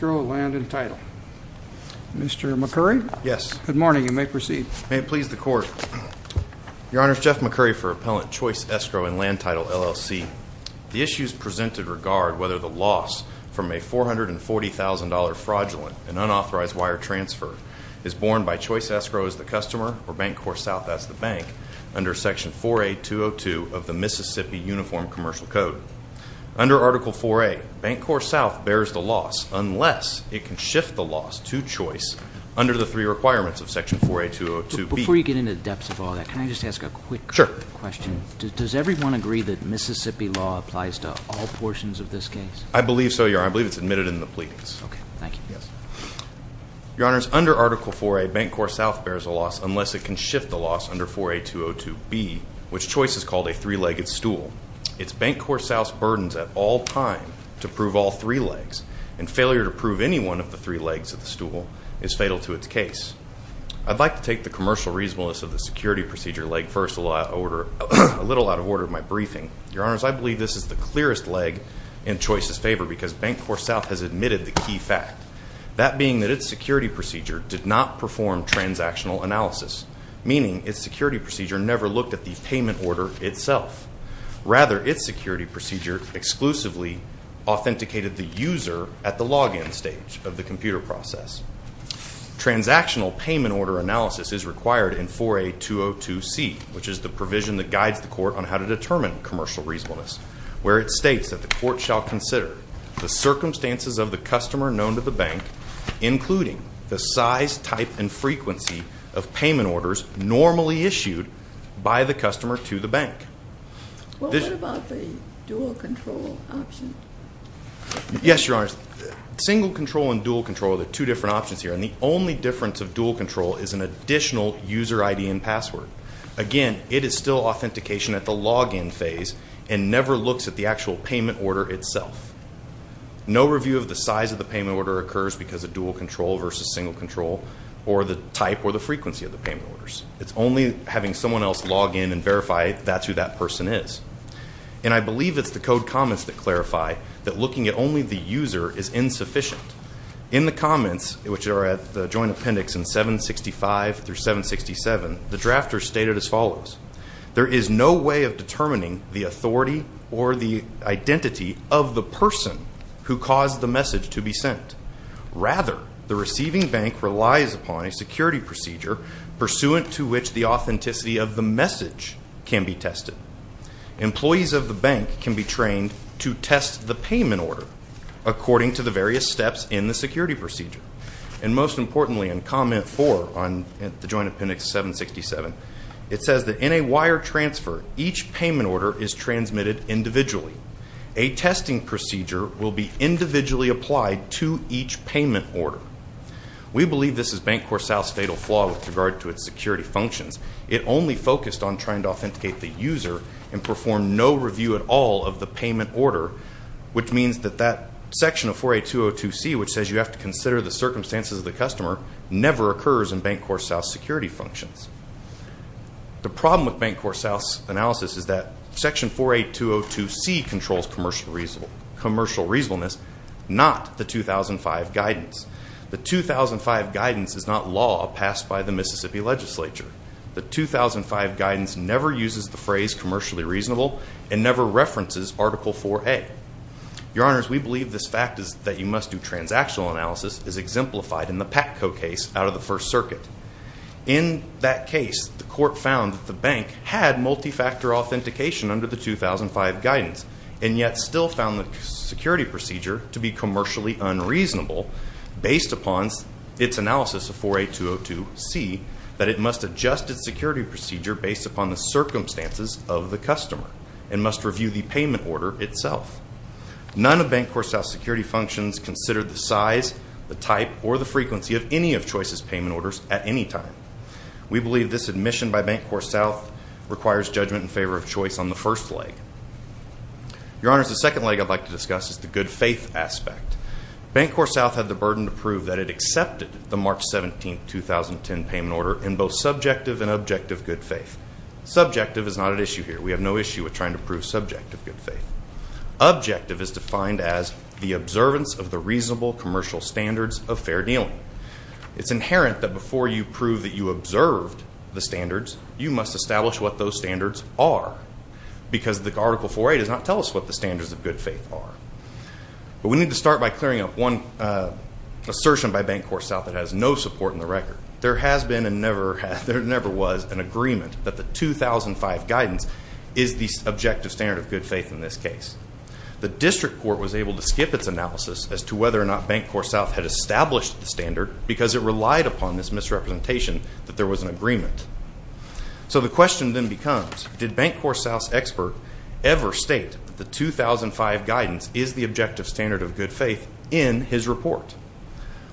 Mr. McCurry? Yes. Good morning. You may proceed. May it please the Court. Your Honor, Jeff McCurry for Appellant Choice Escrow and Land Title, LLC. The issues presented regard whether the loss from a $440,000 fraudulent and unauthorized wire transfer is borne by Choice Escrow as the customer or BancorpSouth as the bank under Section 4A.202 of the Mississippi Uniform Commercial Code. Under Article 4A, BancorpSouth bears the loss unless it can shift the loss to Choice under the three requirements of Section 4A.202B. Before you get into the depths of all that, can I just ask a quick question? Sure. Does everyone agree that Mississippi law applies to all portions of this case? I believe so, Your Honor. I believe it's admitted in the pleadings. Okay. Thank you. Your Honor, under Article 4A, BancorpSouth bears the loss unless it can shift the loss under 4A.202B, which Choice has called a three-legged stool. It's BancorpSouth's burdens at all times to prove all three legs, and failure to prove any one of the three legs of the stool is fatal to its case. I'd like to take the commercial reasonableness of the security procedure leg first, a little out of order with my briefing. Your Honors, I believe this is the clearest leg in Choice's favor because BancorpSouth has admitted the key fact, that being that its security procedure did not perform transactional analysis, meaning its security procedure never looked at the payment order itself. Rather, its security procedure exclusively authenticated the user at the login stage of the computer process. Transactional payment order analysis is required in 4A.202C, which is the provision that guides the court on how to determine commercial reasonableness, where it states that the court shall consider the circumstances of the customer known to the bank, Well, what about the dual-control option? Yes, Your Honors. Single-control and dual-control are the two different options here, and the only difference of dual-control is an additional user ID and password. Again, it is still authentication at the login phase, and never looks at the actual payment order itself. No review of the size of the payment order occurs because of dual-control versus single-control, or the type or the frequency of the payment orders. It's only having someone else log in and verify that's who that person is. And I believe it's the code comments that clarify that looking at only the user is insufficient. In the comments, which are at the joint appendix in 765 through 767, the drafter stated as follows. There is no way of determining the authority or the identity of the person who caused the message to be sent. Rather, the receiving bank relies upon a security procedure, pursuant to which the authenticity of the message can be tested. Employees of the bank can be trained to test the payment order, according to the various steps in the security procedure. And most importantly, in comment four on the joint appendix 767, it says that in a wire transfer, each payment order is transmitted individually. A testing procedure will be individually applied to each payment order. We believe this is BankCorpSAL's fatal flaw with regard to its security functions. It only focused on trying to authenticate the user and perform no review at all of the payment order, which means that that section of 48202C, which says you have to consider the circumstances of the customer, never occurs in BankCorpSAL's security functions. The problem with BankCorpSAL's analysis is that section 48202C controls commercial reasonableness, not the 2005 guidance. The 2005 guidance is not law passed by the Mississippi legislature. The 2005 guidance never uses the phrase commercially reasonable and never references Article 4A. Your Honors, we believe this fact that you must do transactional analysis is exemplified in the PACCO case out of the First Circuit. In that case, the court found that the bank had multifactor authentication under the 2005 guidance and yet still found the security procedure to be commercially unreasonable based upon its analysis of 48202C, that it must adjust its security procedure based upon the circumstances of the customer and must review the payment order itself. None of BankCorpSAL's security functions consider the size, the type, or the frequency of any of Choice's payment orders at any time. We believe this admission by BankCorpSAL requires judgment in favor of Choice on the first leg. Your Honors, the second leg I'd like to discuss is the good faith aspect. BankCorpSAL had the burden to prove that it accepted the March 17, 2010 payment order in both subjective and objective good faith. Subjective is not at issue here. We have no issue with trying to prove subjective good faith. Objective is defined as the observance of the reasonable commercial standards of fair dealing. It's inherent that before you prove that you observed the standards, you must establish what those standards are because the Article 48 does not tell us what the standards of good faith are. But we need to start by clearing up one assertion by BankCorpSAL that has no support in the record. There has been and never has, there never was, an agreement that the 2005 guidance is the objective standard of good faith in this case. The District Court was able to skip its analysis as to whether or not BankCorpSAL had established the standard because it relied upon this misrepresentation that there was an agreement. So the question then becomes, did BankCorpSAL's expert ever state that the 2005 guidance is the objective standard of good faith in his report?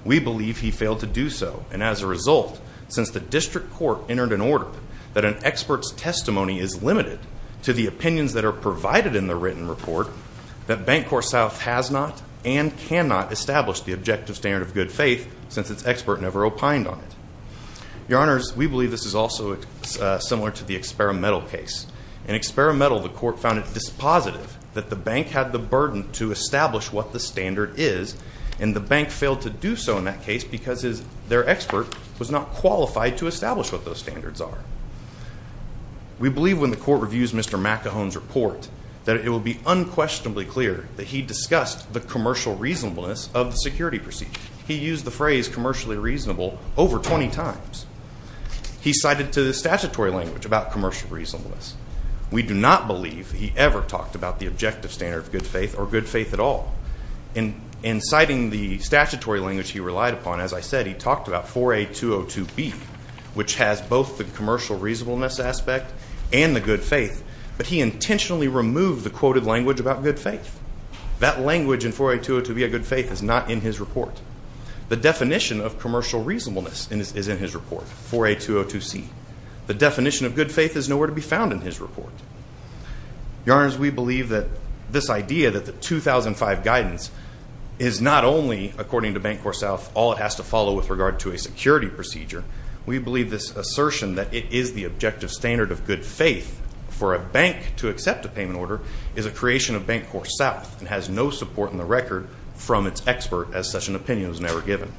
We believe he failed to do so, and as a result, since the District Court entered an order that an expert's testimony is limited to the opinions that are provided in the written report, that BankCorpSAL has not and cannot establish the objective standard of good faith since its expert never opined on it. Your Honors, we believe this is also similar to the Experimental case. In Experimental, the Court found it dispositive that the bank had the burden to establish what the standard is, and the bank failed to do so in that case because their expert was not qualified to establish what those standards are. We believe when the Court reviews Mr. McAhone's report that it will be unquestionably clear that he discussed the commercial reasonableness of the security procedure. He used the phrase commercially reasonable over 20 times. He cited to the statutory language about commercial reasonableness. We do not believe he ever talked about the objective standard of good faith or good faith at all. In citing the statutory language he relied upon, as I said, he talked about 4A.202B, which has both the commercial reasonableness aspect and the good faith, but he intentionally removed the quoted language about good faith. That language in 4A.202B, a good faith, is not in his report. The definition of commercial reasonableness is in his report, 4A.202C. The definition of good faith is nowhere to be found in his report. Your Honors, we believe that this idea that the 2005 guidance is not only, according to Bancorp South, all it has to follow with regard to a security procedure. We believe this assertion that it is the objective standard of good faith for a bank to accept a payment order is a creation of Bancorp South and has no support in the record from its expert, as such an opinion was never given.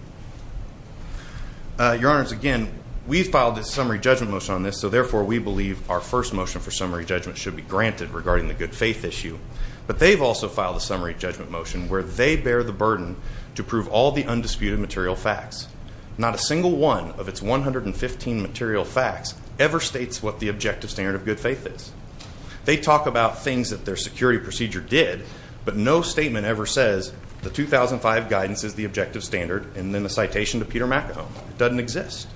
Your Honors, again, we filed a summary judgment motion on this, so therefore we believe our first motion for summary judgment should be granted regarding the good faith issue, but they've also filed a summary judgment motion where they bear the burden to prove all the undisputed material facts. Not a single one of its 115 material facts ever states what the objective standard of good faith is. They talk about things that their security procedure did, but no statement ever says the 2005 guidance is the objective standard and then the citation to Peter McAuliffe doesn't exist.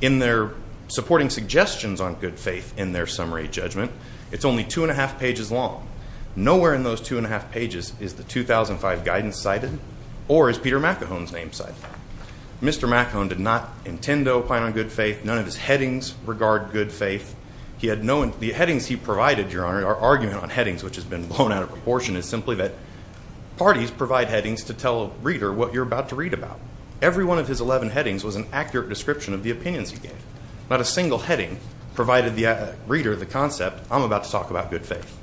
In their supporting suggestions on good faith in their summary judgment, it's only two and a half pages long. Nowhere in those two and a half pages is the 2005 guidance cited or is Peter McAuliffe's name cited. Mr. McAuliffe did not intend to opine on good faith. None of his headings regard good faith. The headings he provided, Your Honor, our argument on headings, which has been blown out of proportion, is simply that parties provide headings to tell a reader what you're about to read about. Every one of his 11 headings was an accurate description of the opinions he gave. Not a single heading provided the reader the concept, I'm about to talk about good faith.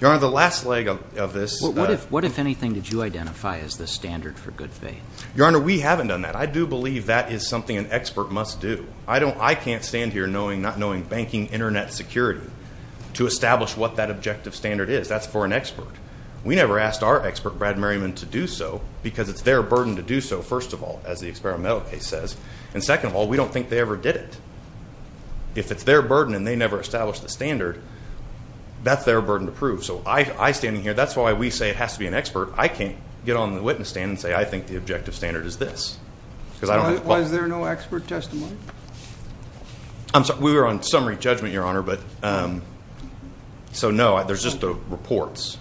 Your Honor, the last leg of this. What, if anything, did you identify as the standard for good faith? Your Honor, we haven't done that. I do believe that is something an expert must do. I can't stand here not knowing banking internet security to establish what that objective standard is. That's for an expert. We never asked our expert, Brad Merriman, to do so because it's their burden to do so, first of all, as the experimental case says, and second of all, we don't think they ever did it. If it's their burden and they never established the standard, that's their burden to prove. So I standing here, that's why we say it has to be an expert. I can't get on the witness stand and say I think the objective standard is this. Was there no expert testimony? We were on summary judgment, Your Honor. So, no, there's just the reports.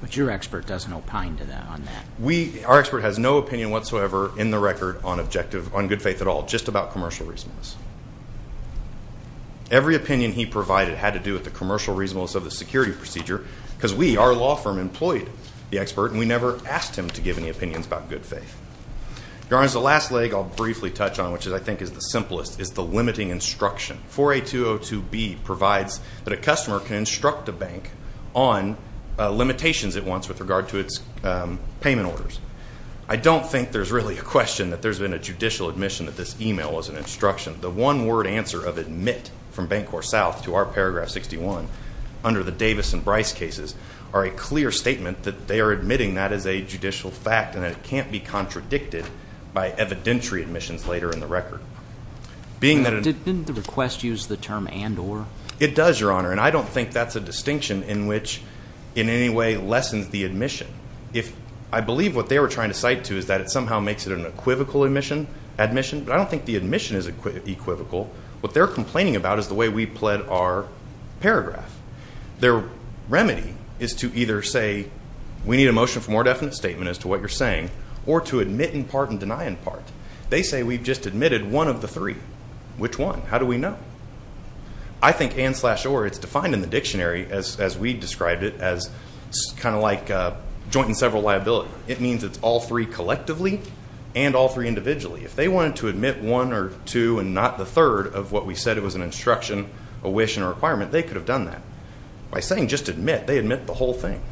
But your expert doesn't opine on that. Our expert has no opinion whatsoever in the record on objective, on good faith at all, just about commercial reasonableness. Every opinion he provided had to do with the commercial reasonableness of the security procedure because we, our law firm, employed the expert, and we never asked him to give any opinions about good faith. Your Honor, the last leg I'll briefly touch on, which I think is the simplest, is the limiting instruction. 4A202B provides that a customer can instruct a bank on limitations at once with regard to its payment orders. I don't think there's really a question that there's been a judicial admission that this email was an instruction. The one-word answer of admit from Bancorp South to our paragraph 61 under the Davis and Bryce cases are a clear statement that they are admitting that as a judicial fact and that it can't be contradicted by evidentiary admissions later in the record. Didn't the request use the term and or? It does, Your Honor, and I don't think that's a distinction in which in any way lessens the admission. I believe what they were trying to cite to is that it somehow makes it an equivocal admission, but I don't think the admission is equivocal. What they're complaining about is the way we pled our paragraph. Their remedy is to either say we need a motion for more definite statement as to what you're saying or to admit in part and deny in part. They say we've just admitted one of the three. Which one? How do we know? I think and slash or, it's defined in the dictionary as we described it as kind of like joint and several liability. It means it's all three collectively and all three individually. If they wanted to admit one or two and not the third of what we said it was an instruction, a wish, and a requirement, they could have done that. By saying just admit, they admit the whole thing.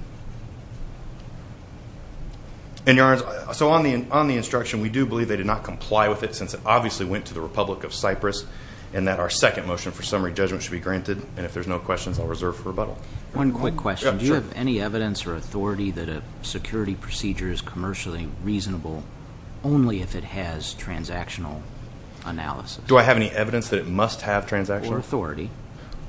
And, Your Honor, so on the instruction, we do believe they did not comply with it since it obviously went to the Republic of Cyprus and that our second motion for summary judgment should be granted. And if there's no questions, I'll reserve for rebuttal. One quick question. Do you have any evidence or authority that a security procedure is commercially reasonable only if it has transactional analysis? Do I have any evidence that it must have transactional? Or authority.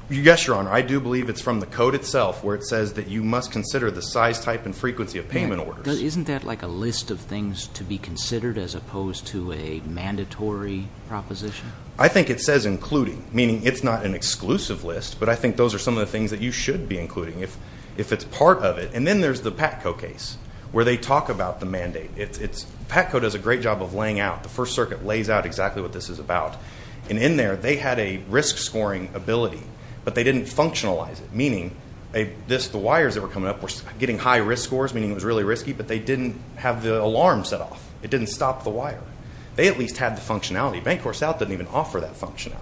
Yes, Your Honor. I do believe it's from the code itself where it says that you must consider the size, type, and frequency of payment orders. Isn't that like a list of things to be considered as opposed to a mandatory proposition? I think it says including, meaning it's not an exclusive list, but I think those are some of the things that you should be including if it's part of it. And then there's the PATCO case where they talk about the mandate. PATCO does a great job of laying out. The First Circuit lays out exactly what this is about. And in there, they had a risk scoring ability, but they didn't functionalize it, meaning the wires that were coming up were getting high risk scores, meaning it was really risky, but they didn't have the alarm set off. It didn't stop the wire. They at least had the functionality. Bancorp South didn't even offer that functionality.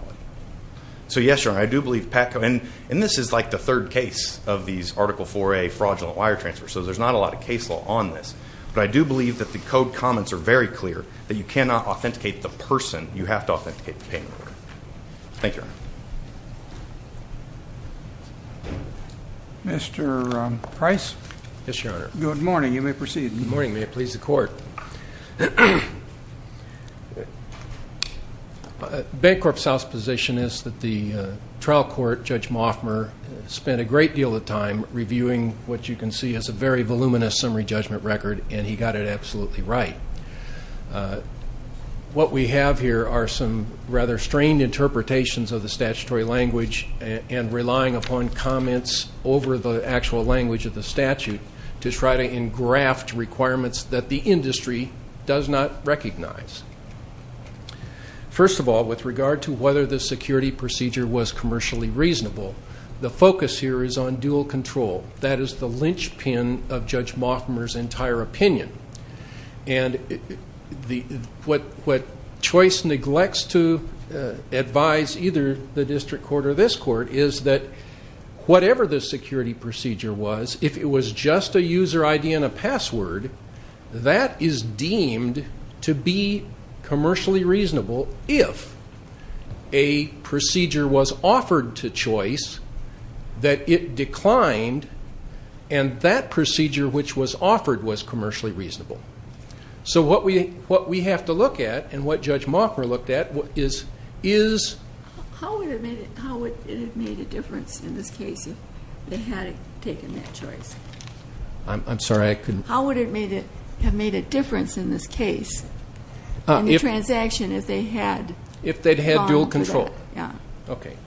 So, yes, Your Honor, I do believe PATCO, and this is like the third case of these Article IV-A fraudulent wire transfers, so there's not a lot of case law on this, but I do believe that the code comments are very clear that you cannot authenticate the person. You have to authenticate the paperwork. Thank you, Your Honor. Mr. Price? Yes, Your Honor. Good morning. You may proceed. Good morning. May it please the Court. Bancorp South's position is that the trial court, Judge Moffmer, spent a great deal of time reviewing what you can see as a very voluminous summary judgment record, and he got it absolutely right. What we have here are some rather strained interpretations of the statutory language and relying upon comments over the actual language of the statute to try to engraft requirements that the industry does not recognize. First of all, with regard to whether the security procedure was commercially reasonable, the focus here is on dual control. That is the linchpin of Judge Moffmer's entire opinion, and what Choice neglects to advise either the district court or this court is that whatever the security procedure was, if it was just a user ID and a password, that is deemed to be commercially reasonable if a procedure was offered to Choice that it declined and that procedure which was offered was commercially reasonable. So what we have to look at and what Judge Moffmer looked at is... How would it have made a difference in this case if they had taken that choice? I'm sorry, I couldn't... How would it have made a difference in this case in the transaction if they had... If they'd had dual control. Yeah. Okay.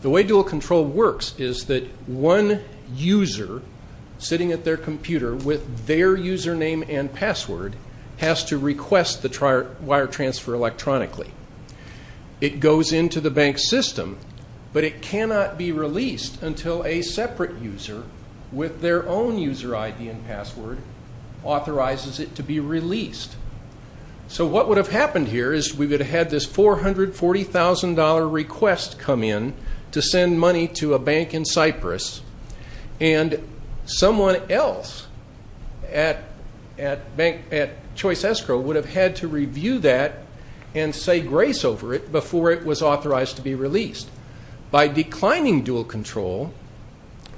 The way dual control works is that one user sitting at their computer with their username and password has to request the wire transfer electronically. It goes into the bank's system, but it cannot be released until a separate user with their own user ID and password authorizes it to be released. So what would have happened here is we would have had this $440,000 request come in to send money to a bank in Cyprus, and someone else at Choice Escrow would have had to review that and say grace over it before it was authorized to be released. By declining dual control,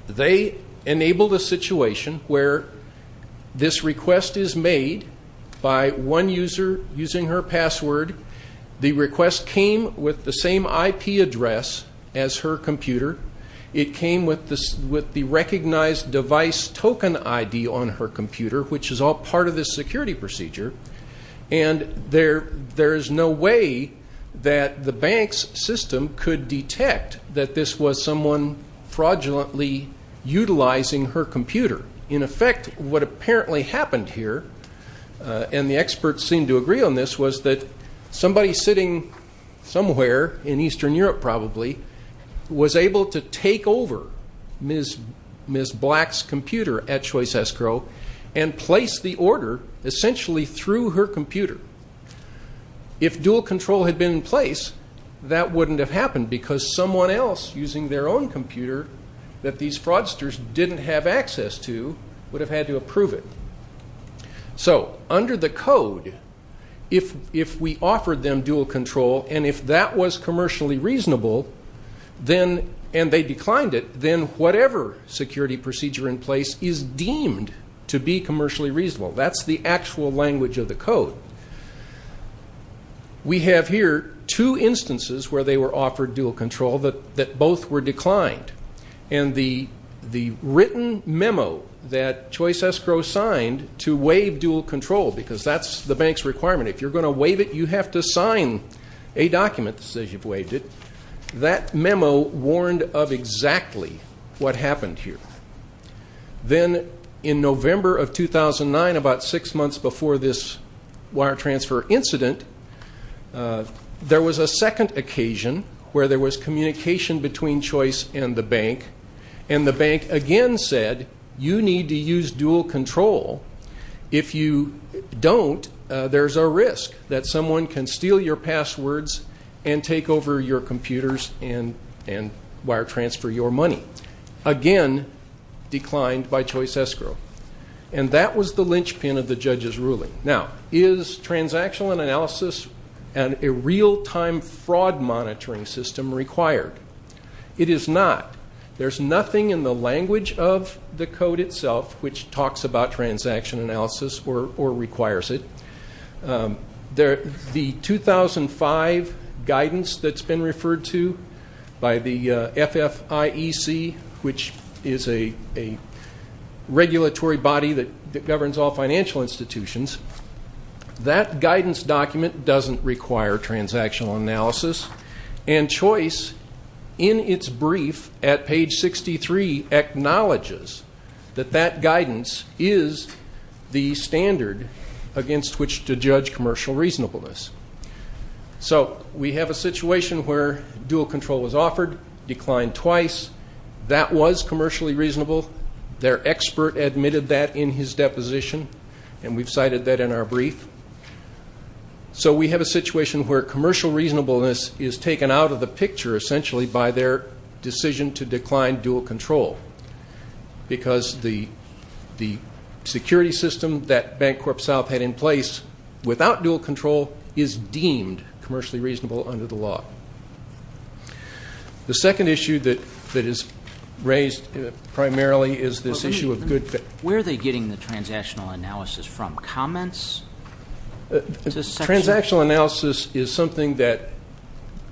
they enabled a situation where this request is made by one user using her password. The request came with the same IP address as her computer. It came with the recognized device token ID on her computer, which is all part of this security procedure. And there is no way that the bank's system could detect that this was someone fraudulently utilizing her computer. In effect, what apparently happened here, and the experts seemed to agree on this, was that somebody sitting somewhere in Eastern Europe, probably, was able to take over Ms. Black's computer at Choice Escrow and place the order essentially through her computer. If dual control had been in place, that wouldn't have happened because someone else using their own computer that these fraudsters didn't have access to would have had to approve it. So, under the code, if we offered them dual control and if that was commercially reasonable and they declined it, then whatever security procedure in place is deemed to be commercially reasonable. That's the actual language of the code. We have here two instances where they were offered dual control that both were declined. And the written memo that Choice Escrow signed to waive dual control, because that's the bank's requirement. If you're going to waive it, you have to sign a document that says you've waived it. That memo warned of exactly what happened here. Then, in November of 2009, about six months before this wire transfer incident, there was a second occasion where there was communication between Choice and the bank. And the bank again said, you need to use dual control. If you don't, there's a risk that someone can steal your passwords and take over your computers and wire transfer your money. Again, declined by Choice Escrow. Now, is transactional analysis and a real-time fraud monitoring system required? It is not. There's nothing in the language of the code itself which talks about transaction analysis or requires it. The 2005 guidance that's been referred to by the FFIEC, which is a regulatory body that governs all financial institutions, that guidance document doesn't require transactional analysis. And Choice, in its brief at page 63, acknowledges that that guidance is the standard against which to judge commercial reasonableness. So we have a situation where dual control was offered, declined twice. That was commercially reasonable. Their expert admitted that in his deposition, and we've cited that in our brief. So we have a situation where commercial reasonableness is taken out of the picture, essentially, by their decision to decline dual control because the security system that BancorpSouth had in place without dual control is deemed commercially reasonable under the law. The second issue that is raised primarily is this issue of good fit. Where are they getting the transactional analysis from, comments? Transactional analysis is something that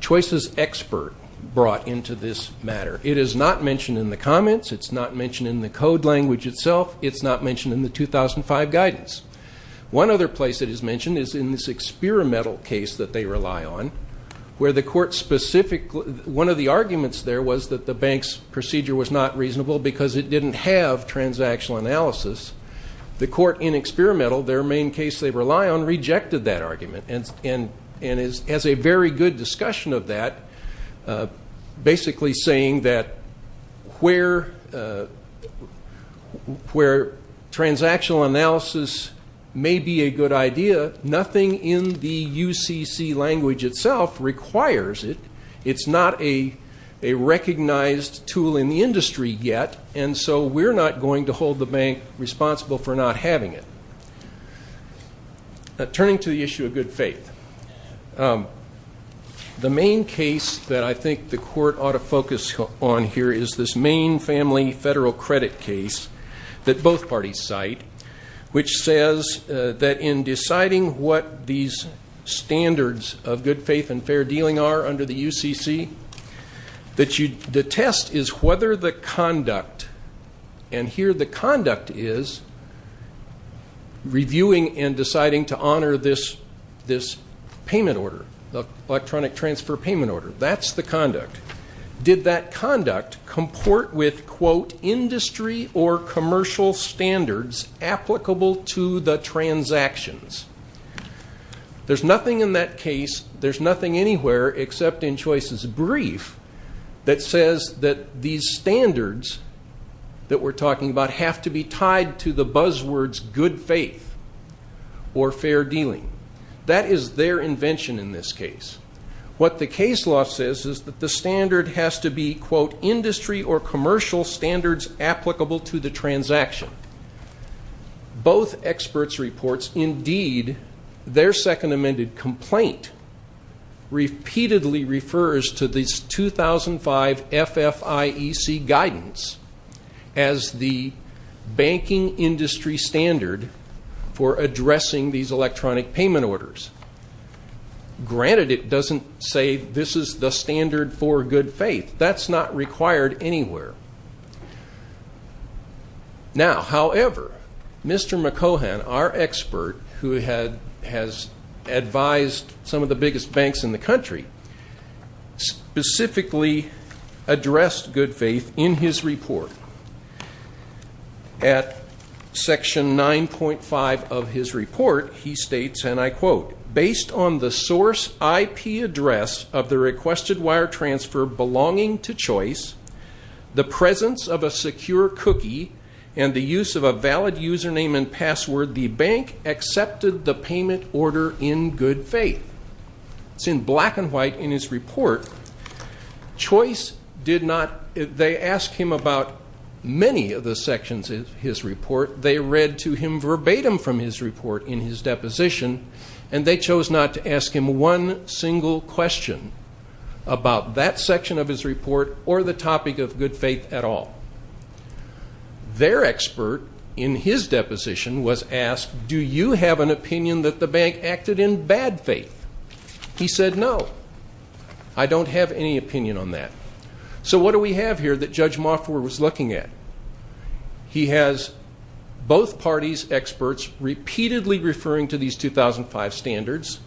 Choice's expert brought into this matter. It is not mentioned in the comments. It's not mentioned in the code language itself. It's not mentioned in the 2005 guidance. One other place it is mentioned is in this experimental case that they rely on, where the court specifically one of the arguments there was that the bank's procedure was not reasonable because it didn't have transactional analysis. The court in experimental, their main case they rely on, rejected that argument and has a very good discussion of that, basically saying that where transactional analysis may be a good idea, but nothing in the UCC language itself requires it. It's not a recognized tool in the industry yet, and so we're not going to hold the bank responsible for not having it. Turning to the issue of good faith, the main case that I think the court ought to focus on here is this main family federal credit case that both parties cite, which says that in deciding what these standards of good faith and fair dealing are under the UCC, the test is whether the conduct, and here the conduct is reviewing and deciding to honor this payment order, the electronic transfer payment order. That's the conduct. Did that conduct comport with, quote, industry or commercial standards applicable to the transactions? There's nothing in that case, there's nothing anywhere except in Choices Brief, that says that these standards that we're talking about have to be tied to the buzzwords good faith or fair dealing. That is their invention in this case. What the case law says is that the standard has to be, quote, industry or commercial standards applicable to the transaction. Both experts' reports, indeed, their second amended complaint, repeatedly refers to this 2005 FFIEC guidance as the banking industry standard for addressing these electronic payment orders. Granted, it doesn't say this is the standard for good faith. That's not required anywhere. Now, however, Mr. McCohan, our expert, who has advised some of the biggest banks in the country, specifically addressed good faith in his report. At section 9.5 of his report, he states, and I quote, based on the source IP address of the requested wire transfer belonging to Choice, the presence of a secure cookie, and the use of a valid username and password, the bank accepted the payment order in good faith. It's in black and white in his report. Choice did not, they asked him about many of the sections of his report. They read to him verbatim from his report in his deposition, and they chose not to ask him one single question about that section of his report or the topic of good faith at all. Their expert in his deposition was asked, do you have an opinion that the bank acted in bad faith? He said, no, I don't have any opinion on that. So what do we have here that Judge Mofford was looking at? He has both parties' experts repeatedly referring to these 2005 standards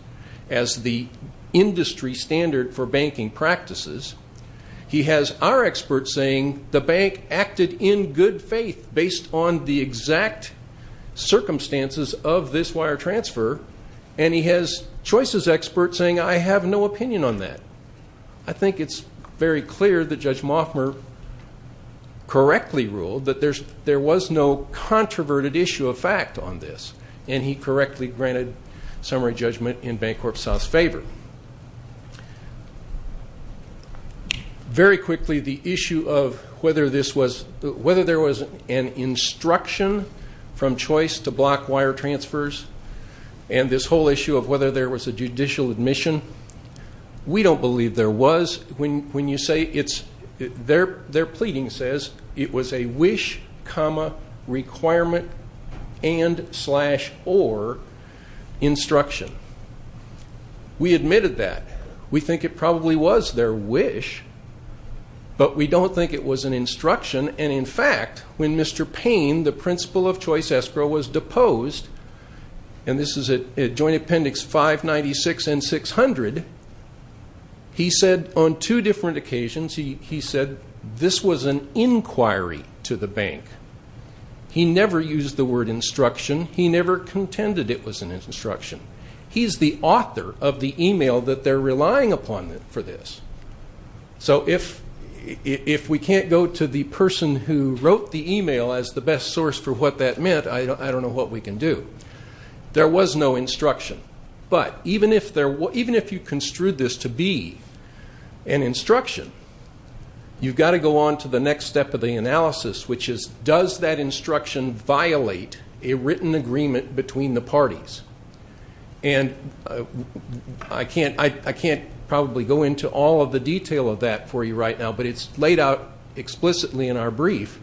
as the industry standard for banking practices. He has our experts saying the bank acted in good faith based on the exact circumstances of this wire transfer, and he has Choice's experts saying, I have no opinion on that. I think it's very clear that Judge Mofford correctly ruled that there was no controverted issue of fact on this, and he correctly granted summary judgment in Bancorp South's favor. Very quickly, the issue of whether there was an instruction from Choice to block wire transfers and this whole issue of whether there was a judicial admission. We don't believe there was. Their pleading says it was a wish, requirement, and, slash, or instruction. We admitted that. We think it probably was their wish, but we don't think it was an instruction, and, in fact, when Mr. Payne, the principal of Choice Escrow, was deposed, and this is at Joint Appendix 596 and 600, he said on two different occasions, he never used the word instruction. He never contended it was an instruction. He's the author of the email that they're relying upon for this. So if we can't go to the person who wrote the email as the best source for what that meant, I don't know what we can do. There was no instruction, but even if you construed this to be an instruction, you've got to go on to the next step of the analysis, which is, does that instruction violate a written agreement between the parties? And I can't probably go into all of the detail of that for you right now, but it's laid out explicitly in our brief.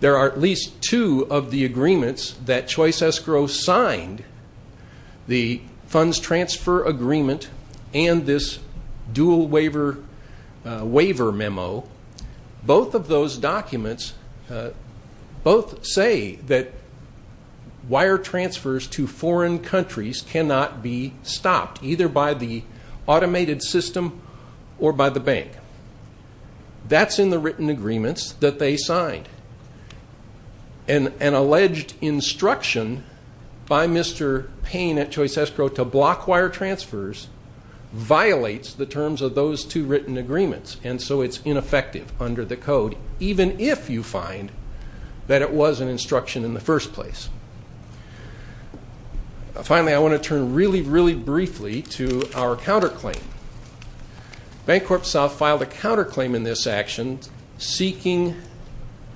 There are at least two of the agreements that Choice Escrow signed, the funds transfer agreement and this dual waiver memo. Both of those documents both say that wire transfers to foreign countries cannot be stopped, either by the automated system or by the bank. That's in the written agreements that they signed. An alleged instruction by Mr. Payne at Choice Escrow to block wire transfers violates the terms of those two written agreements, and so it's ineffective under the code, even if you find that it was an instruction in the first place. Finally, I want to turn really, really briefly to our counterclaim. Bank Corp South filed a counterclaim in this action seeking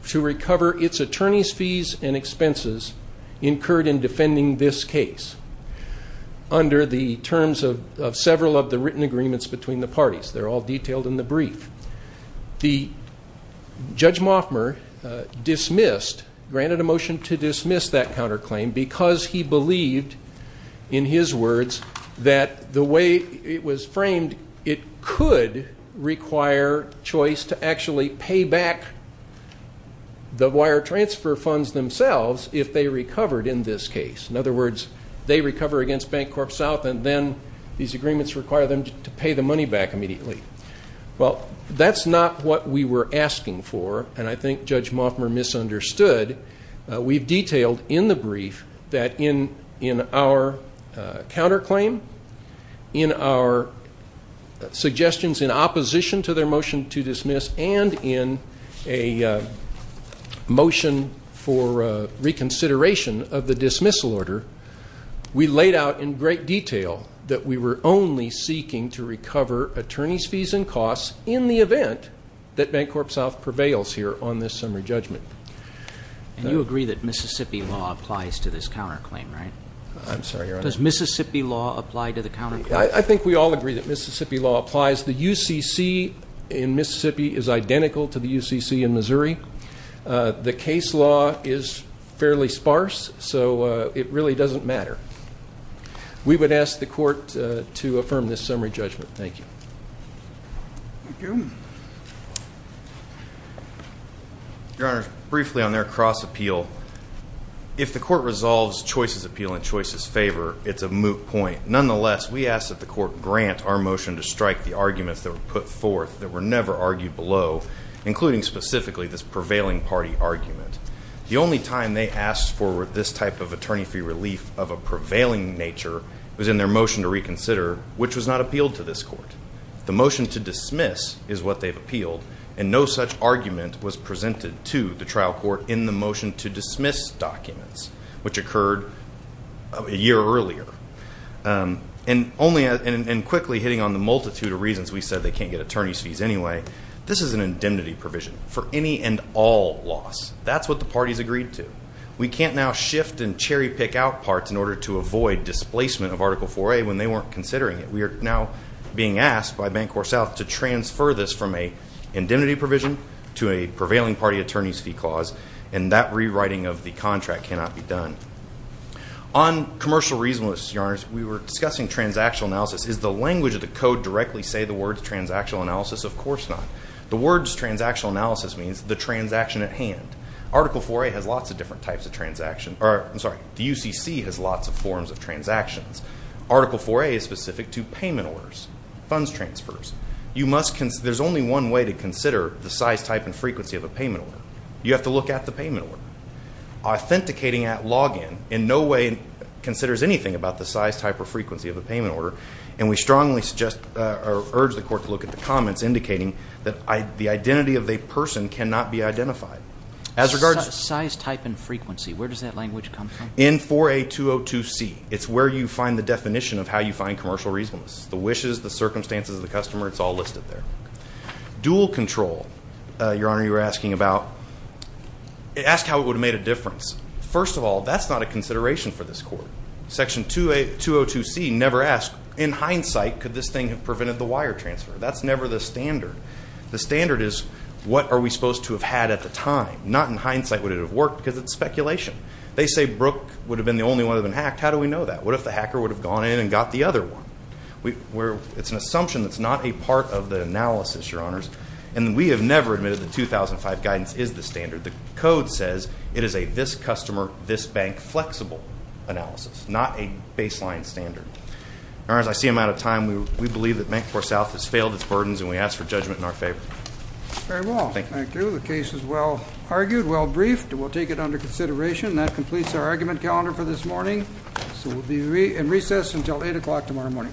to recover its attorney's fees and expenses incurred in defending this case under the terms of several of the written agreements between the parties. They're all detailed in the brief. Judge Moffmer dismissed, granted a motion to dismiss that counterclaim because he believed, in his words, that the way it was framed, it could require Choice to actually pay back the wire transfer funds themselves if they recovered in this case. In other words, they recover against Bank Corp South, and then these agreements require them to pay the money back immediately. Well, that's not what we were asking for, and I think Judge Moffmer misunderstood. We've detailed in the brief that in our counterclaim, in our suggestions in opposition to their motion to dismiss, and in a motion for reconsideration of the dismissal order, we laid out in great detail that we were only seeking to recover attorney's fees and costs in the event that Bank Corp South prevails here on this summary judgment. And you agree that Mississippi law applies to this counterclaim, right? I'm sorry, Your Honor. Does Mississippi law apply to the counterclaim? I think we all agree that Mississippi law applies. The UCC in Mississippi is identical to the UCC in Missouri. The case law is fairly sparse, so it really doesn't matter. We would ask the court to affirm this summary judgment. Thank you. Thank you. Your Honor, briefly on their cross-appeal, if the court resolves Choice's appeal in Choice's favor, it's a moot point. Nonetheless, we ask that the court grant our motion to strike the arguments that were put forth that were never argued below, including specifically this prevailing party argument. The only time they asked for this type of attorney fee relief of a prevailing nature was in their motion to reconsider, which was not appealed to this court. The motion to dismiss is what they've appealed, and no such argument was presented to the trial court in the motion to dismiss documents, which occurred a year earlier. And quickly, hitting on the multitude of reasons we said they can't get attorney's fees anyway, this is an indemnity provision for any and all loss. That's what the parties agreed to. We can't now shift and cherry-pick out parts in order to avoid displacement of Article 4A when they weren't considering it. We are now being asked by Bancorp South to transfer this from an indemnity provision to a prevailing party attorney's fee clause, and that rewriting of the contract cannot be done. On commercial reasonableness, Your Honor, we were discussing transactional analysis. Does the language of the code directly say the words transactional analysis? Of course not. The words transactional analysis means the transaction at hand. Article 4A has lots of different types of transactions. I'm sorry, the UCC has lots of forms of transactions. Article 4A is specific to payment orders, funds transfers. There's only one way to consider the size, type, and frequency of a payment order. You have to look at the payment order. Authenticating at login in no way considers anything about the size, type, or frequency of a payment order, and we strongly suggest or urge the court to look at the comments indicating that the identity of a person cannot be identified. Size, type, and frequency, where does that language come from? In 4A202C. It's where you find the definition of how you find commercial reasonableness. The wishes, the circumstances of the customer, it's all listed there. Dual control, Your Honor, you were asking about. Ask how it would have made a difference. First of all, that's not a consideration for this court. Section 202C never asks, in hindsight, could this thing have prevented the wire transfer? That's never the standard. The standard is what are we supposed to have had at the time? Not in hindsight would it have worked because it's speculation. They say Brooke would have been the only one that had been hacked. How do we know that? What if the hacker would have gone in and got the other one? It's an assumption that's not a part of the analysis, Your Honors, and we have never admitted that 2005 guidance is the standard. The code says it is a this-customer, this-bank flexible analysis, not a baseline standard. Your Honors, I see I'm out of time. We believe that Mancorp South has failed its burdens, and we ask for judgment in our favor. Very well. Thank you. The case is well argued, well briefed, and we'll take it under consideration. That completes our argument calendar for this morning. So we'll be in recess until 8 o'clock tomorrow morning.